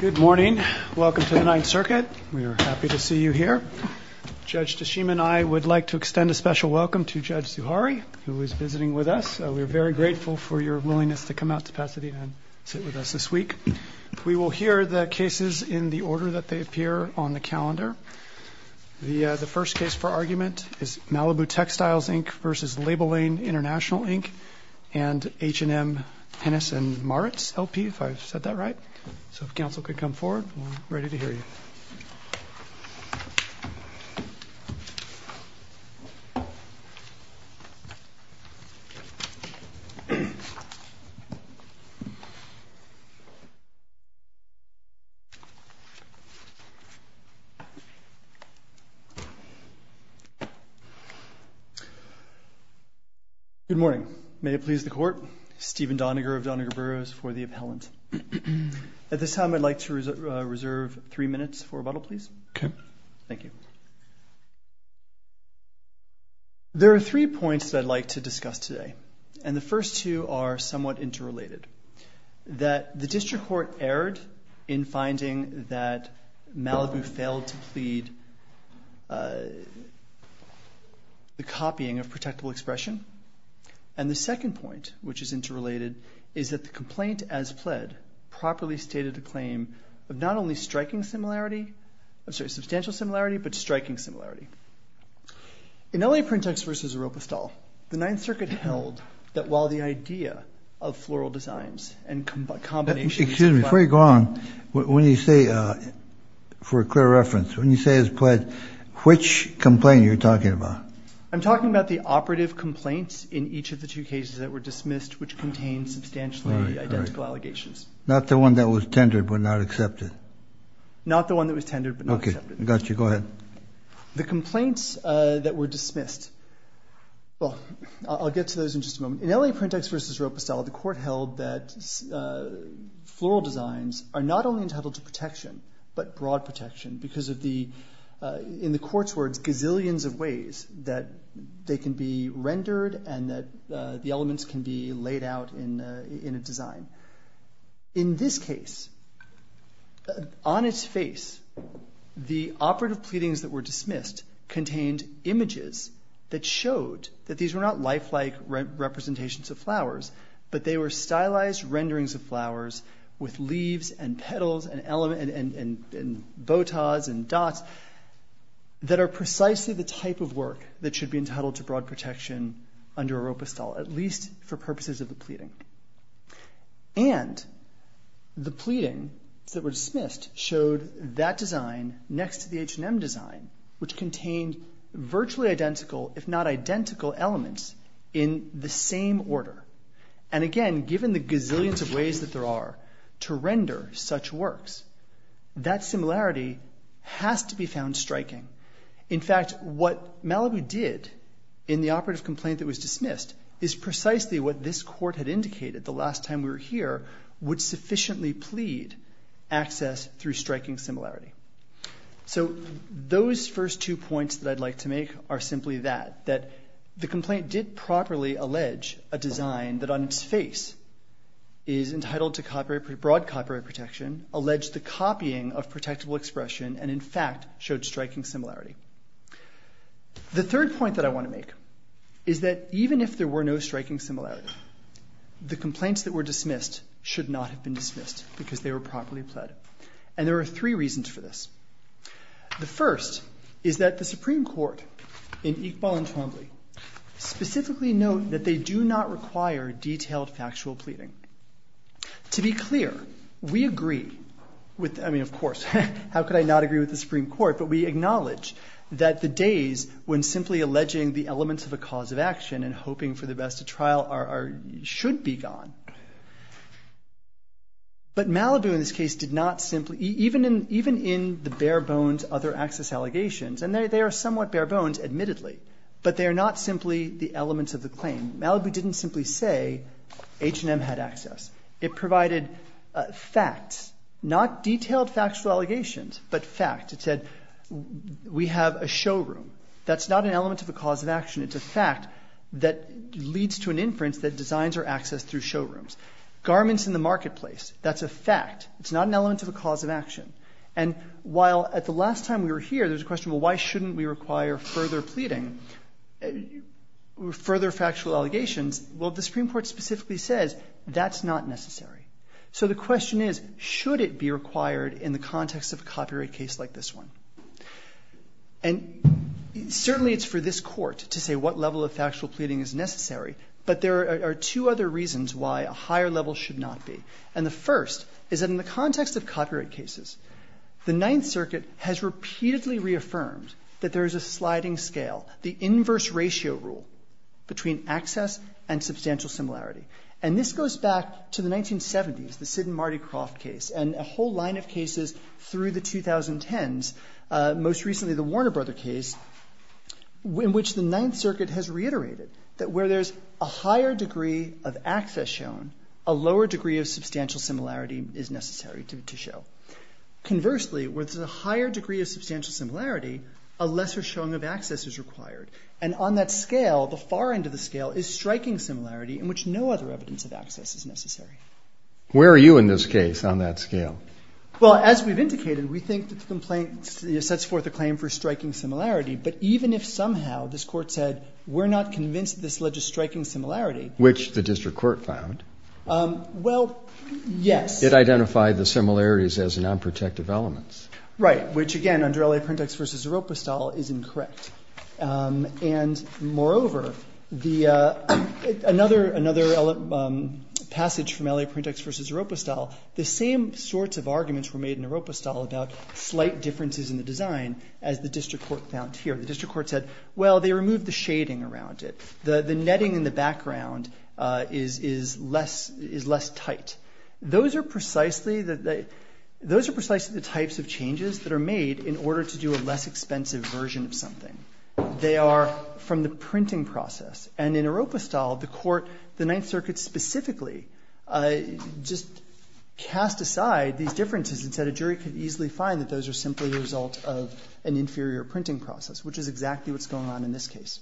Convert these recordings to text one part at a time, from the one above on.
Good morning. Welcome to the Ninth Circuit. We are happy to see you here. Judge Tashima and I would like to extend a special welcome to Judge Zuhari, who is visiting with us. We are very grateful for your willingness to come out to Pasadena and sit with us this week. We will hear the cases in the order that they appear on the calendar. The first case for argument is Malibu Textiles, Inc. v. Label Lane International, Inc. and So if counsel could come forward, we are ready to hear you. Good morning. May it please the Court, Stephen Doniger of Doniger Burroughs for the appellant. At this time, I would like to reserve three minutes for rebuttal, please. Thank you. There are three points that I would like to discuss today, and the first two are somewhat interrelated. The District Court erred in finding that Malibu failed to plead the copying of protectable expression, and the second point, which is interrelated, is that the complaint as pled properly stated a claim of not only striking similarity, I'm sorry, substantial similarity, but striking similarity. In L.A. Print Texts v. Oropestal, the Ninth Circuit held that while the idea of floral designs and combinations of flowers… Excuse me, before you go on, when you say, for a clear reference, when you say as pled, which complaint are you talking about? I'm talking about the operative complaints in each of the two cases that were dismissed, which contained substantially identical allegations. Not the one that was tendered but not accepted? Not the one that was tendered but not accepted. Okay, got you. Go ahead. The complaints that were dismissed, well, I'll get to those in just a moment. In L.A. Print Texts v. Oropestal, the Court held that floral designs are not only entitled to protection, but broad protection, because of the, in the Court's words, gazillions of ways that they can be rendered and that the elements can be laid out in a design. In this case, on its face, the operative pleadings that were dismissed contained images that showed that these were not lifelike representations of flowers, but they were stylized renderings of flowers with leaves and petals and elements and botas and dots that are precisely the type of work that should be entitled to broad protection under Oropestal, at least for purposes of the pleading. And the pleading that were dismissed showed that design next to the H&M design, which contained virtually identical, if not identical, elements in the same order. And again, given the gazillions of ways that there are to render such works, that similarity has to be found striking. In fact, what Malibu did in the operative complaint that was dismissed is precisely what this Court had indicated the last time we were here would sufficiently plead access through striking similarity. So those first two points that I'd like to make are simply that, that the complaint did not properly allege a design that on its face is entitled to broad copyright protection, allege the copying of protectable expression, and in fact showed striking similarity. The third point that I want to make is that even if there were no striking similarity, the complaints that were dismissed should not have been dismissed because they were properly pled. And there are three reasons for this. The first is that the Supreme Court in Iqbal and Twombly specifically note that they do not require detailed factual pleading. To be clear, we agree with, I mean, of course, how could I not agree with the Supreme Court? But we acknowledge that the days when simply alleging the elements of a cause of action and hoping for the best to trial are, should be gone. But Malibu in this case did not simply, even in the bare bones other access allegations, and they are somewhat bare bones admittedly, but they are not simply the elements of the claim. Malibu didn't simply say H&M had access. It provided facts, not detailed factual allegations, but fact. It said we have a showroom. That's not an element of a cause of action. It's a fact that leads to an inference that designs are accessed through showrooms. Garments in the marketplace, that's a fact. It's not an element of a cause of action. And while at the last time we were here, there's a question, well, why shouldn't we require further pleading, further factual allegations? Well, the Supreme Court specifically says that's not necessary. So the question is, should it be required in the context of a copyright case like this one? And certainly it's for this Court to say what level of factual pleading is necessary, but there are two other reasons why a higher level should not be. And the first is that in the context of copyright cases, the Ninth Circuit has repeatedly reaffirmed that there is a sliding scale, the inverse ratio rule between access and substantial similarity. And this goes back to the 1970s, the Sid and Marty Croft case, and a whole line of cases through the 2010s, most recently the Warner Brother case, in which the Ninth Circuit has reiterated that where there's a higher degree of access shown, a lower degree of substantial similarity is necessary to show. Conversely, where there's a higher degree of substantial similarity, a lesser showing of access is required. And on that scale, the far end of the scale, is striking similarity in which no other evidence of access is necessary. Where are you in this case on that scale? Well, as we've indicated, we think that the complaint sets forth a claim for striking similarity. But even if somehow this Court said, we're not convinced this led to striking similarity Which the district court found. Well, yes. It identified the similarities as non-protective elements. Right. Which again, under LA Printex v. Eropostal, is incorrect. And moreover, another passage from LA Printex v. Eropostal, the same sorts of arguments were made in Eropostal about slight differences in the design as the district court found here. The district court said, well, they removed the shading around it. The netting in the background is less tight. Those are precisely the types of changes that are made in order to do a less expensive version of something. They are from the printing process. And in Eropostal, the court, the Ninth Circuit specifically, just cast aside these differences and said a jury could easily find that those are simply the result of an inferior printing process, which is exactly what's going on in this case.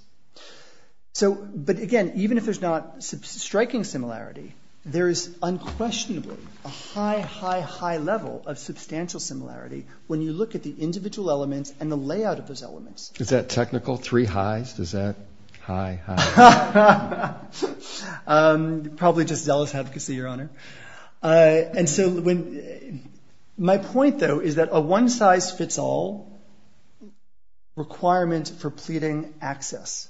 But again, even if there's not striking similarity, there is unquestionably a high, high, high level of substantial similarity when you look at the individual elements and the layout of those elements. Is that technical? Three highs? Is that high, high? Probably just zealous advocacy, Your Honor. And so my point, though, is that a one-size-fits-all requirement for pleading access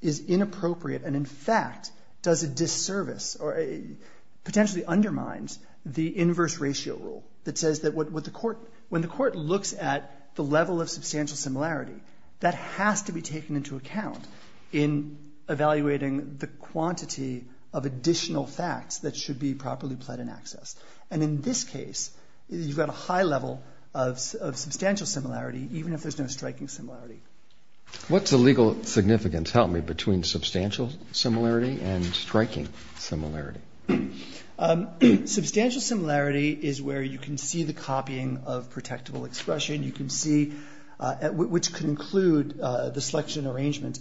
is inappropriate and, in fact, does a disservice or potentially undermines the inverse ratio rule that says that when the court looks at the level of substantial similarity, that has to be taken into account in evaluating the quantity of additional facts that should be properly pled in access. And in this case, you've got a high level of substantial similarity, even if there's no striking similarity. What's the legal significance, help me, between substantial similarity and striking similarity? Substantial similarity is where you can see the copying of protectable expression. You can see, which can include the selection arrangement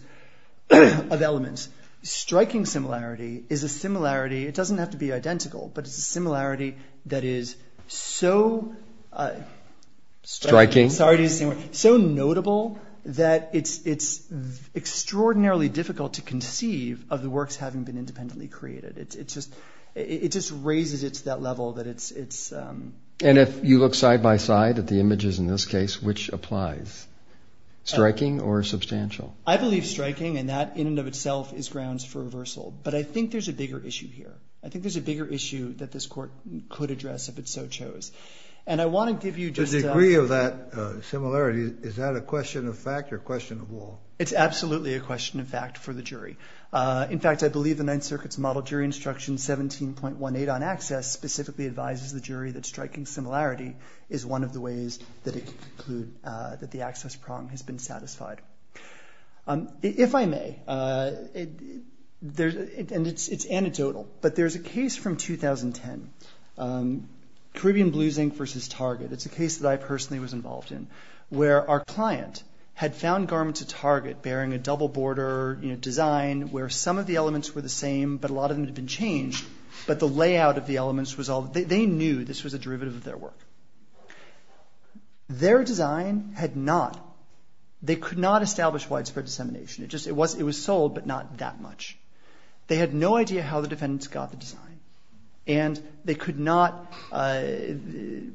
of elements. Striking similarity is a similarity, it doesn't have to be identical, but it's a similarity that is so striking, so notable that it's extraordinarily difficult to conceive of the works having been independently created. It just raises it to that level that it's... And if you look side-by-side at the images in this case, which applies, striking or substantial? I believe striking, and that in and of itself is grounds for reversal. But I think there's a bigger issue here. I think there's a bigger issue that this court could address if it so chose. And I want to give you just... The degree of that similarity, is that a question of fact or a question of law? It's absolutely a question of fact for the jury. In fact, I believe the Ninth Circuit's Model Jury Instruction 17.18 on access specifically advises the jury that striking similarity is one of the ways that it can conclude that the access problem has been satisfied. If I may, it's anecdotal, but there's a case from 2010, Caribbean Blue Zinc versus Target. It's a case that I personally was involved in, where our client had found garments at where some of the elements were the same, but a lot of them had been changed. But the layout of the elements was all... They knew this was a derivative of their work. Their design had not... They could not establish widespread dissemination. It was sold, but not that much. They had no idea how the defendants got the design. And they could not... In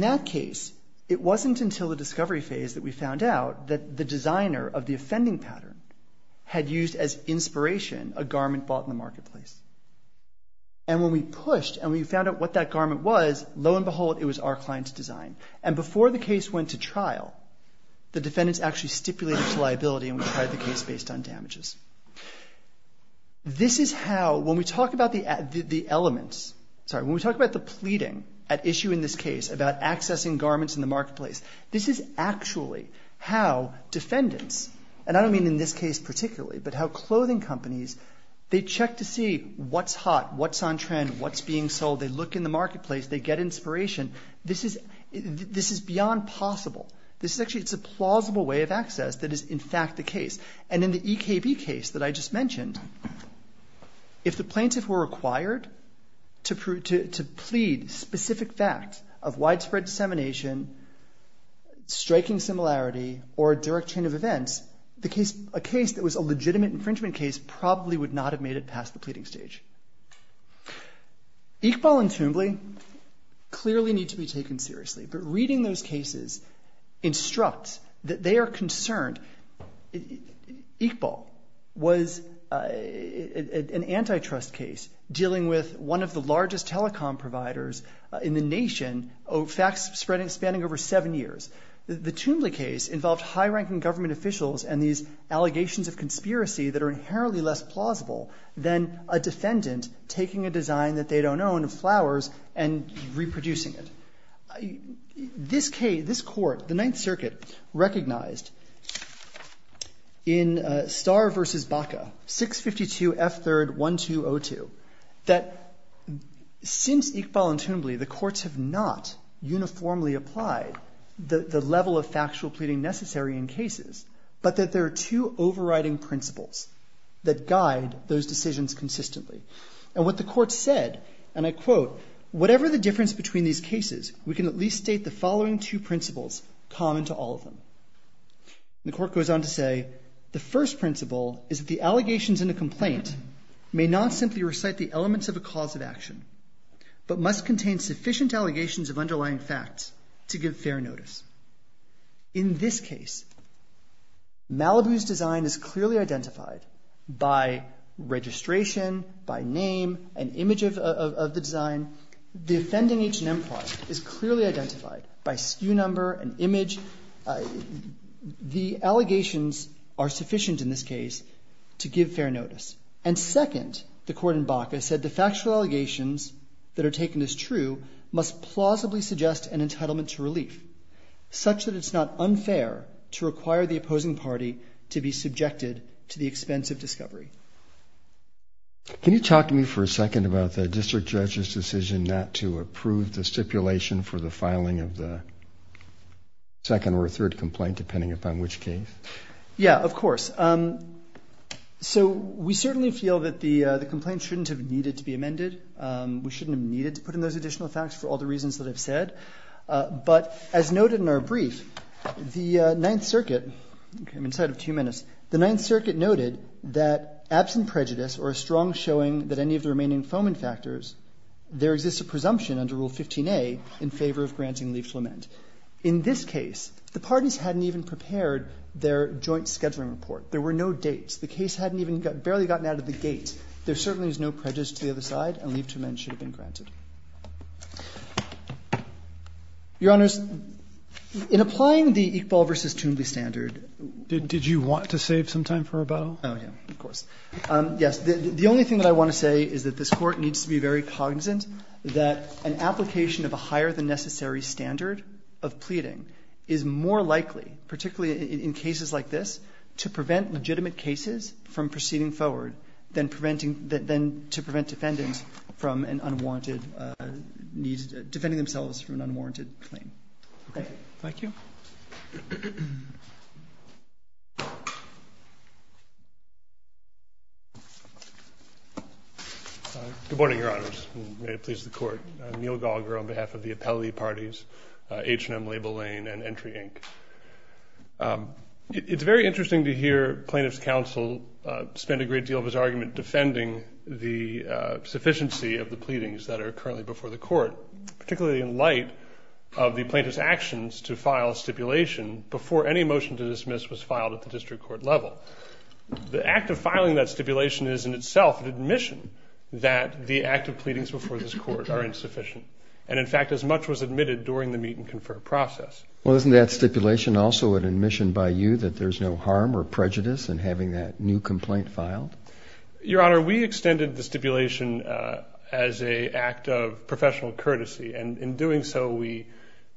that case, it wasn't until the discovery phase that we found out that the designer of the offending pattern had used as inspiration a garment bought in the marketplace. And when we pushed and we found out what that garment was, lo and behold, it was our client's design. And before the case went to trial, the defendants actually stipulated liability and we tried the case based on damages. This is how... When we talk about the elements... Sorry. When we talk about the pleading at issue in this case about accessing garments in the marketplace, this is actually how defendants, and I don't mean in this case particularly, but how clothing companies, they check to see what's hot, what's on trend, what's being sold. They look in the marketplace. They get inspiration. This is beyond possible. This is actually... It's a plausible way of access that is in fact the case. And in the EKB case that I just mentioned, if the plaintiff were required to plead specific fact of widespread dissemination, striking similarity, or a direct chain of events, a case that was a legitimate infringement case probably would not have made it past the pleading stage. Iqbal and Toombly clearly need to be taken seriously, but reading those cases instructs that they are concerned. Iqbal was an antitrust case dealing with one of the largest telecom providers in the nation, facts spanning over seven years. The Toombly case involved high-ranking government officials and these allegations of conspiracy that are inherently less plausible than a defendant taking a design that they don't own of flowers and reproducing it. This court, the Ninth Circuit, recognized in Starr v. Baca, 652 F.3.1202, that since Iqbal and Toombly, the courts have not uniformly applied the level of factual pleading necessary in cases, but that there are two overriding principles that guide those decisions consistently. What the court said, and I quote, whatever the difference between these cases, we can at least state the following two principles common to all of them. The court goes on to say, the first principle is that the allegations in a complaint may not simply recite the elements of a cause of action, but must contain sufficient allegations of underlying facts to give fair notice. In this case, Malibu's design is clearly identified by registration, by name, an image of the design. The offending H&M product is clearly identified by SKU number and image. The allegations are sufficient in this case to give fair notice. And second, the court in Baca said the factual allegations that are taken as true must plausibly suggest an entitlement to relief, such that it's not unfair to require the opposing party to be subjected to the expense of discovery. Can you talk to me for a second about the district judge's decision not to approve the stipulation for the filing of the second or third complaint, depending upon which case? Yeah, of course. So we certainly feel that the complaint shouldn't have needed to be amended. We shouldn't have needed to put in those additional facts for all the reasons that I've said. But as noted in our brief, the Ninth Circuit, okay, I'm inside of two minutes. The Ninth Circuit noted that absent prejudice or a strong showing that any of the remaining informant factors, there exists a presumption under Rule 15a in favor of granting leave to lament. In this case, the parties hadn't even prepared their joint scheduling report. There were no dates. The case hadn't even barely gotten out of the gate. In this case, there certainly is no prejudice to the other side, and leave to lament should have been granted. Your Honors, in applying the Iqbal v. Toombley standard Did you want to save some time for rebuttal? Oh, yeah, of course. Yes. The only thing that I want to say is that this Court needs to be very cognizant that an application of a higher than necessary standard of pleading is more likely, particularly in cases like this, to prevent legitimate cases from proceeding forward than to prevent defendants from an unwarranted need, defending themselves from an unwarranted claim. Okay, thank you. Good morning, Your Honors, and may it please the Court. I'm Neil Galgrove on behalf of the Appellee Parties, H&M, Label Lane, and Entry, Inc. It's very interesting to hear plaintiff's counsel spend a great deal of his argument defending the sufficiency of the pleadings that are currently before the Court, particularly in light of the plaintiff's actions to file a stipulation before any motion to dismiss was filed at the district court level. The act of filing that stipulation is in itself an admission that the active pleadings before this Court are insufficient, and in fact, as much was admitted during the meet-and-confer process. Well, isn't that stipulation also an admission by you that there's no harm or prejudice in having that new complaint filed? Your Honor, we extended the stipulation as an act of professional courtesy, and in doing so, we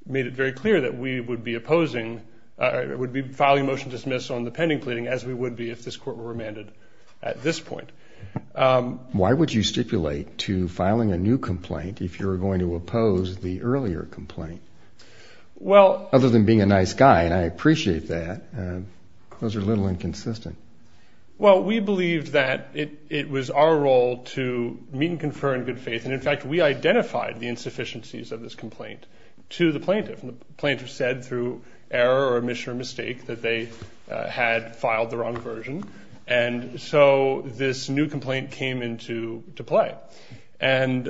made it very clear that we would be opposing, would be filing a motion to dismiss on the pending pleading as we would be if this Court were remanded at this point. Why would you stipulate to filing a new complaint if you're going to oppose the earlier complaint? Well... Other than being a nice guy, and I appreciate that, those are a little inconsistent. Well, we believed that it was our role to meet-and-confer in good faith, and in fact, we identified the insufficiencies of this complaint to the plaintiff. And the plaintiff said through error or admission or mistake that they had filed the wrong version, and so this new complaint came into play. And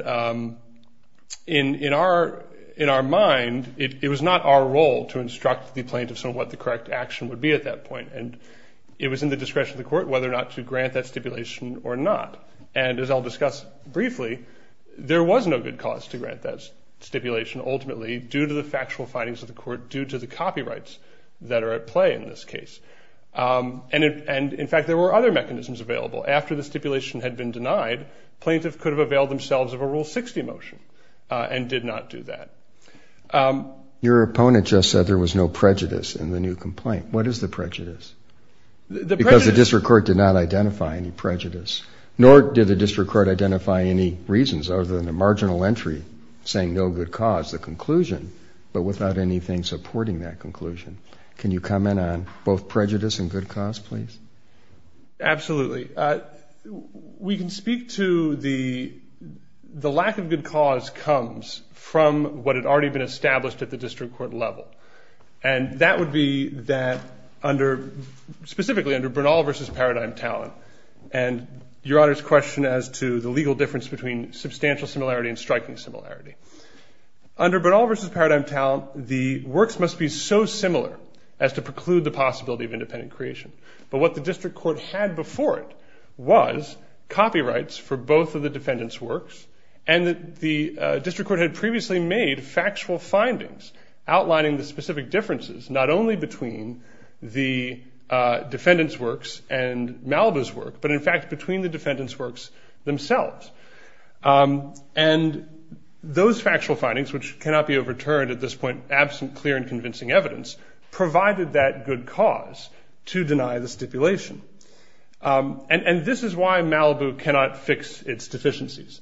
in our mind, it was not our role to instruct the plaintiff on what the correct action would be at that point, and it was in the discretion of the Court whether or not to grant that stipulation or not. And as I'll discuss briefly, there was no good cause to grant that stipulation ultimately due to the factual findings of the Court, due to the copyrights that are at play in this case. And in fact, there were other mechanisms available. After the stipulation had been denied, the plaintiff could have availed themselves of a Rule 60 motion and did not do that. Your opponent just said there was no prejudice in the new complaint. What is the prejudice? The prejudice... Because the District Court did not identify any prejudice, nor did the District Court identify any reasons other than a marginal entry saying no good cause, the conclusion, but without anything supporting that conclusion. Can you comment on both prejudice and good cause, please? Absolutely. We can speak to the lack of good cause comes from what had already been established at the District Court level. And that would be that under, specifically under Bernal v. Paradigm Talent, and Your Honor's question as to the legal difference between substantial similarity and striking similarity. Under Bernal v. Paradigm Talent, the works must be so similar as to preclude the possibility of independent creation. But what the District Court had before it was copyrights for both of the defendants' works. And the District Court had previously made factual findings outlining the specific differences, not only between the defendants' works and Malibu's work, but in fact, between the defendants' works themselves. And those factual findings, which cannot be overturned at this point, absent clear and to deny the stipulation. And this is why Malibu cannot fix its deficiencies,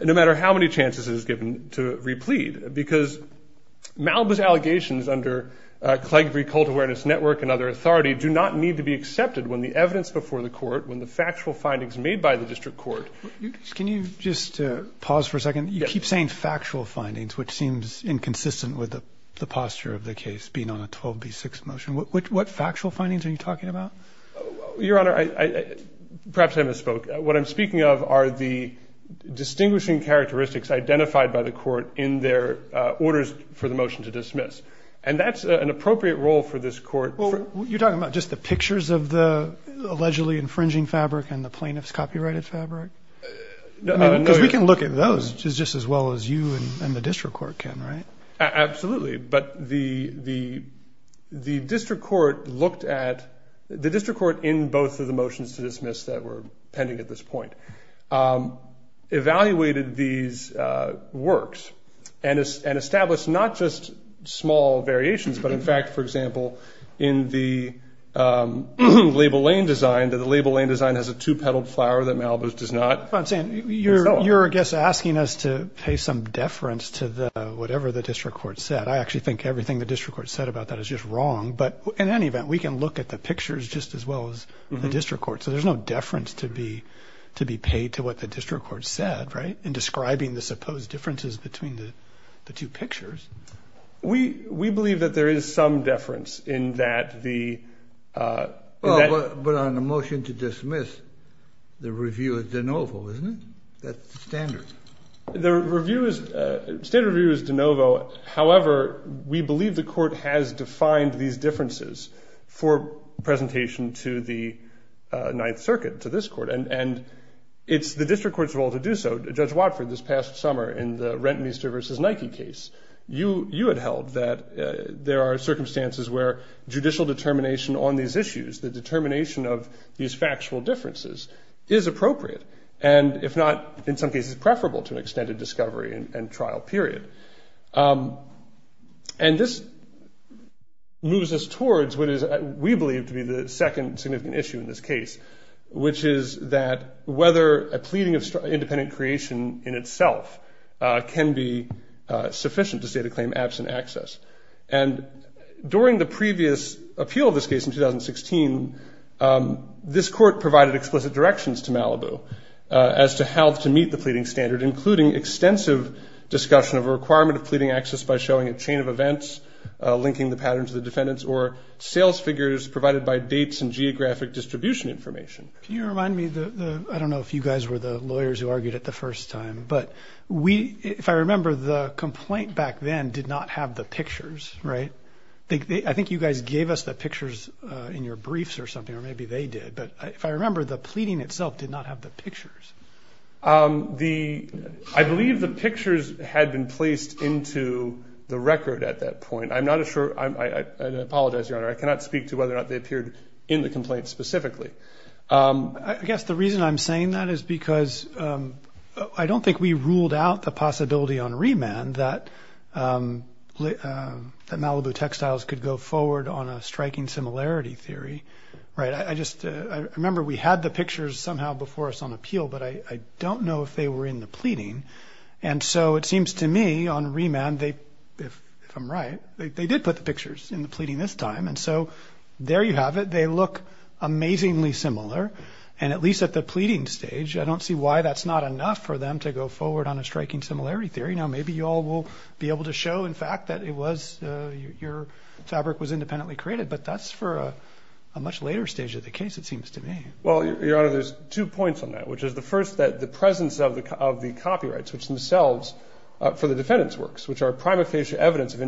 no matter how many chances it is given to replead, because Malibu's allegations under Clegg v. Cult Awareness Network and other authority do not need to be accepted when the evidence before the court, when the factual findings made by the District Court. Can you just pause for a second? You keep saying factual findings, which seems inconsistent with the posture of the case being on a 12b6 motion. What factual findings are you talking about? Your Honor, perhaps I misspoke. What I'm speaking of are the distinguishing characteristics identified by the court in their orders for the motion to dismiss. And that's an appropriate role for this court. Well, you're talking about just the pictures of the allegedly infringing fabric and the plaintiff's copyrighted fabric? We can look at those just as well as you and the District Court can, right? Absolutely. But the District Court looked at, the District Court in both of the motions to dismiss that were pending at this point, evaluated these works and established not just small variations, but in fact, for example, in the label lane design, that the label lane design has a two-petaled flower that Malibu's does not. You're, I guess, asking us to pay some deference to the whatever the District Court said. I actually think everything the District Court said about that is just wrong. But in any event, we can look at the pictures just as well as the District Court. So there's no deference to be to be paid to what the District Court said, right, in describing the supposed differences between the two pictures. We believe that there is some deference in that the. Well, but on the motion to dismiss, the review is de novo, isn't it? That's the standard. The review is, the standard review is de novo. However, we believe the court has defined these differences for presentation to the Ninth Circuit, to this court. And it's the District Court's role to do so. Judge Watford, this past summer in the Renton Easter versus Nike case, you had held that there are circumstances where judicial determination on these issues, the determination of these factual differences is appropriate and if not, in some cases, preferable to an extended discovery and trial period. And this moves us towards what is, we believe, to be the second significant issue in this case, which is that whether a pleading of independent creation in itself can be dismissed. And during the previous appeal of this case in 2016, this court provided explicit directions to Malibu as to how to meet the pleading standard, including extensive discussion of a requirement of pleading access by showing a chain of events, linking the pattern to the defendants or sales figures provided by dates and geographic distribution information. Can you remind me, I don't know if you guys were the lawyers who argued it the first time, but if I remember, the complaint back then did not have the pictures, right? I think you guys gave us the pictures in your briefs or something, or maybe they did. But if I remember, the pleading itself did not have the pictures. I believe the pictures had been placed into the record at that point. I'm not sure. I apologize, Your Honor, I cannot speak to whether or not they appeared in the complaint specifically. I guess the reason I'm saying that is because I don't think we ruled out the possibility on remand that Malibu Textiles could go forward on a striking similarity theory. Right. I just remember we had the pictures somehow before us on appeal, but I don't know if they were in the pleading. And so it seems to me on remand, if I'm right, they did put the pictures in the pleading this time. So there you have it. They look amazingly similar. And at least at the pleading stage, I don't see why that's not enough for them to go forward on a striking similarity theory. Now, maybe you all will be able to show, in fact, that it was your fabric was independently created. But that's for a much later stage of the case, it seems to me. Well, Your Honor, there's two points on that, which is the first that the presence of the copyrights, which themselves for the defendants works, which are prima facie evidence of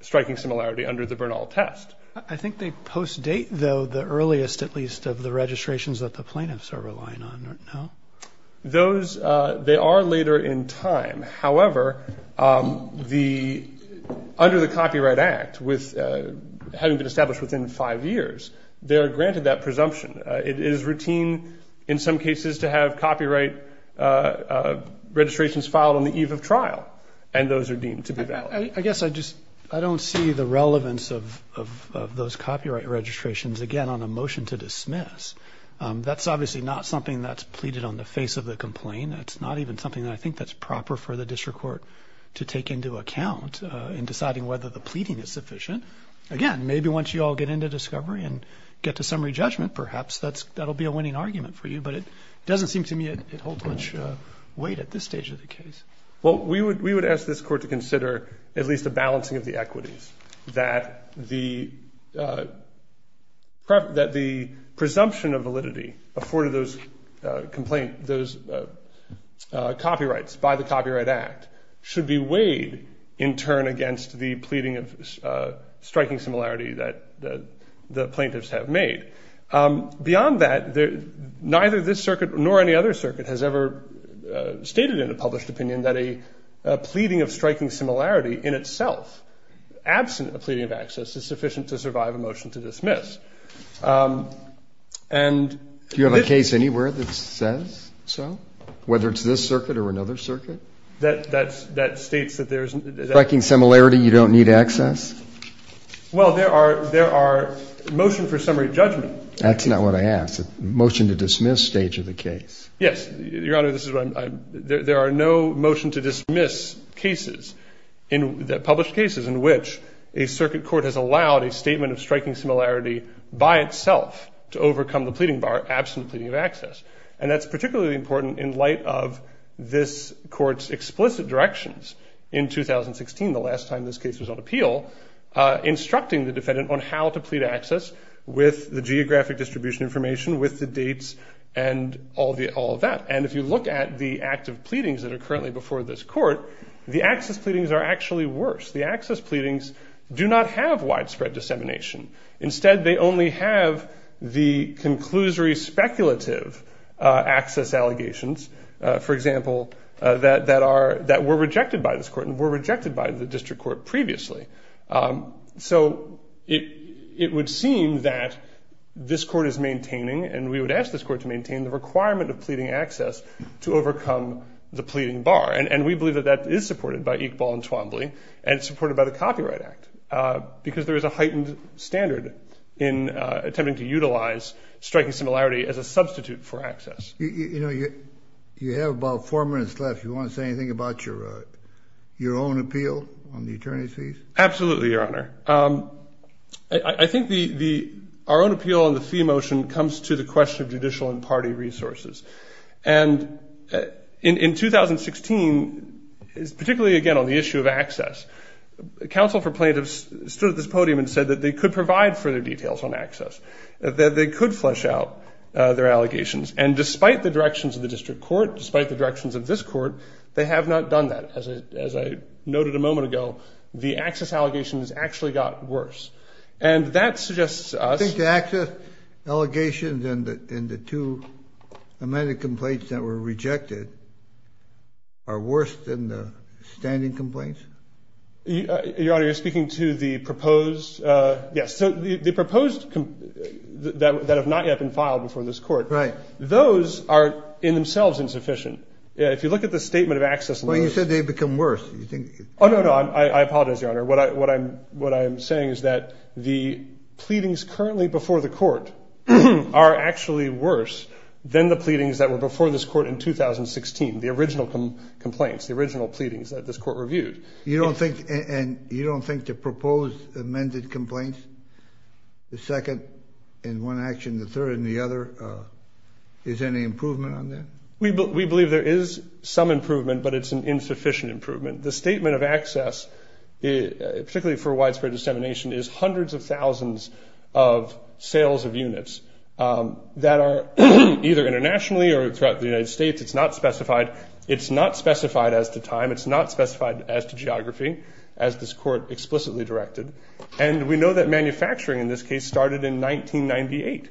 striking similarity under the Bernal test. I think they post-date, though, the earliest, at least of the registrations that the plaintiffs are relying on. Those, they are later in time. However, under the Copyright Act, having been established within five years, they are granted that presumption. It is routine in some cases to have copyright registrations filed on the eve of trial. And those are deemed to be valid. I guess I just I don't see the relevance of those copyright registrations, again, on a motion to dismiss. That's obviously not something that's pleaded on the face of the complaint. That's not even something that I think that's proper for the district court to take into account in deciding whether the pleading is sufficient. Again, maybe once you all get into discovery and get to summary judgment, perhaps that's that'll be a winning argument for you. But it doesn't seem to me it holds much weight at this stage of the case. Well, we would we would ask this court to consider at least a balancing of the equities that the that the presumption of validity afforded those complaint those copyrights by the Copyright Act should be weighed in turn against the pleading of striking similarity that the plaintiffs have made. Beyond that, neither this circuit nor any other circuit has ever stated in a published opinion that a pleading of striking similarity in itself, absent a pleading of access, is sufficient to survive a motion to dismiss. And if you have a case anywhere that says so, whether it's this circuit or another circuit, that that's that states that there is striking similarity, you don't need access. Well, there are there are motion for summary judgment. That's not what I asked. Motion to dismiss stage of the case. Yes. Your Honor, this is why there are no motion to dismiss cases in the published cases in which a circuit court has allowed a statement of striking similarity by itself to overcome the pleading bar absent pleading of access. And that's particularly important in light of this court's explicit directions. In 2016, the last time this case was on appeal, instructing the defendant on how to all of that. And if you look at the active pleadings that are currently before this court, the access pleadings are actually worse. The access pleadings do not have widespread dissemination. Instead, they only have the conclusory speculative access allegations, for example, that that are that were rejected by this court and were rejected by the district court previously. So it it would seem that this court is maintaining and we would ask this court to maintain the requirement of pleading access to overcome the pleading bar. And we believe that that is supported by Iqbal and Twombly and supported by the Copyright Act, because there is a heightened standard in attempting to utilize striking similarity as a substitute for access. You know, you have about four minutes left. You want to say anything about your your own appeal on the attorney's fees? Absolutely, Your Honor. I think the the our own appeal on the fee motion comes to the attention of the district court, as well as the district court's own party resources. And in 2016, particularly, again, on the issue of access, counsel for plaintiffs stood at this podium and said that they could provide further details on access, that they could flesh out their allegations. And despite the directions of the district court, despite the directions of this court, they have not done that. As I noted a moment ago, the access allegations actually got worse. And that suggests to us that the access allegations and the two amended complaints that were rejected are worse than the standing complaints. Your Honor, you're speaking to the proposed. Yes. So the proposed that have not yet been filed before this court. Right. Those are in themselves insufficient. If you look at the statement of access, well, you said they become worse. You think? Oh, no, no. I apologize, Your Honor. What I'm saying is that the pleadings currently before the court are actually worse than the pleadings that were before this court in 2016, the original complaints, the original pleadings that this court reviewed. You don't think the proposed amended complaints, the second in one action, the third in the other, is there any improvement on that? We believe there is some improvement, but it's an insufficient improvement. The statement of access, particularly for widespread dissemination, is hundreds of thousands of sales of units that are either internationally or throughout the United States. It's not specified. It's not specified as to time. It's not specified as to geography, as this court explicitly directed. And we know that manufacturing, in this case, started in 1998.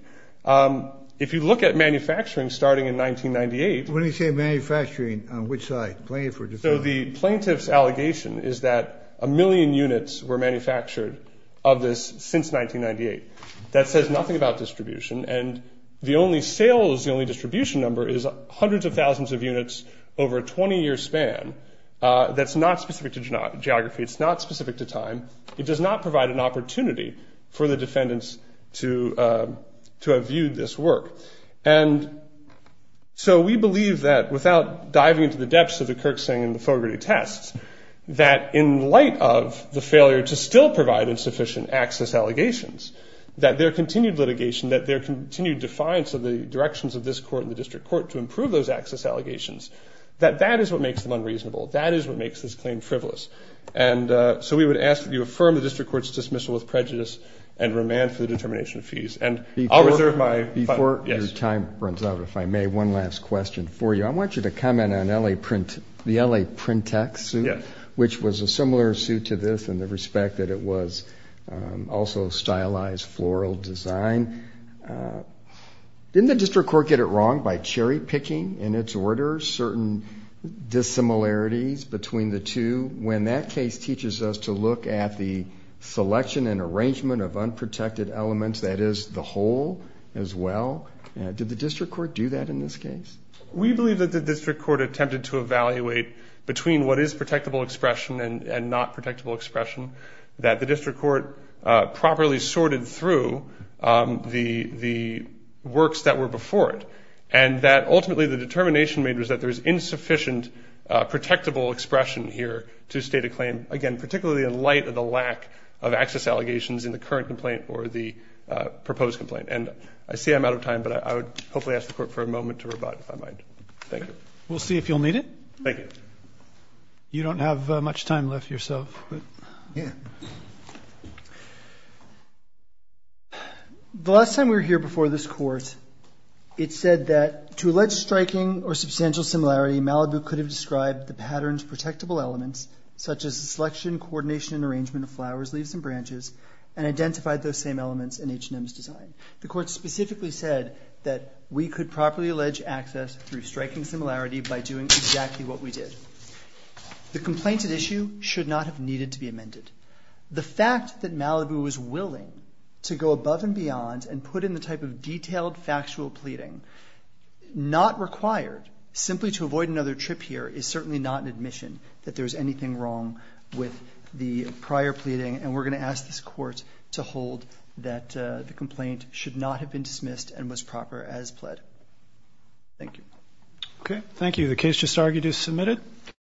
If you look at manufacturing starting in 1998. When you say manufacturing, on which side, plaintiff or defendant? So the plaintiff's allegation is that a million units were manufactured of this since 1998. That says nothing about distribution, and the only sales, the only distribution number is hundreds of thousands of units over a 20-year span. That's not specific to geography. It's not specific to time. It does not provide an opportunity for the defendants to have viewed this work. And so we believe that, without diving into the depths of the Kirksing and the Fogarty tests, that in light of the failure to still provide insufficient access allegations, that their continued litigation, that their continued defiance of the directions of this court and the district court to improve those access allegations, that that is what makes them unreasonable. That is what makes this claim frivolous. And so we would ask that you affirm the district court's dismissal with prejudice and remand for the determination of fees. And I'll reserve my time. Before your time runs out, if I may, one last question for you. I want you to comment on the LA Printex suit, which was a similar suit to this in the respect that it was also stylized floral design. Didn't the district court get it wrong by cherry-picking, in its order, certain dissimilarities between the two? When that case teaches us to look at the selection and arrangement of unprotected elements, that is, the whole as well, did the district court do that in this case? We believe that the district court attempted to evaluate between what is protectable expression and not protectable expression, that the district court properly sorted through the works that were before it. And that ultimately the determination made was that there's insufficient protectable expression here to state a claim. Again, particularly in light of the lack of access allegations in the current complaint or the proposed complaint. And I see I'm out of time, but I would hopefully ask the court for a moment to rebut, if I might. Thank you. We'll see if you'll need it. Thank you. You don't have much time left yourself. The last time we were here before this court, it said that to allege striking or substantial similarity, Malibu could have described the patterns of protectable elements such as selection, coordination, and arrangement of flowers, leaves, and branches, and identified those same elements in H&M's design. The court specifically said that we could properly allege access through striking similarity by doing exactly what we did. The complaint at issue should not have needed to be amended. The fact that Malibu was willing to go above and beyond and put in the type of detailed factual pleading not required simply to avoid another trip here is certainly not an admission that there's anything wrong with the prior pleading, and we're going to ask this court to hold that the complaint should not have been dismissed and was proper as pled. Thank you. Okay. Thank you. The case just argued is submitted.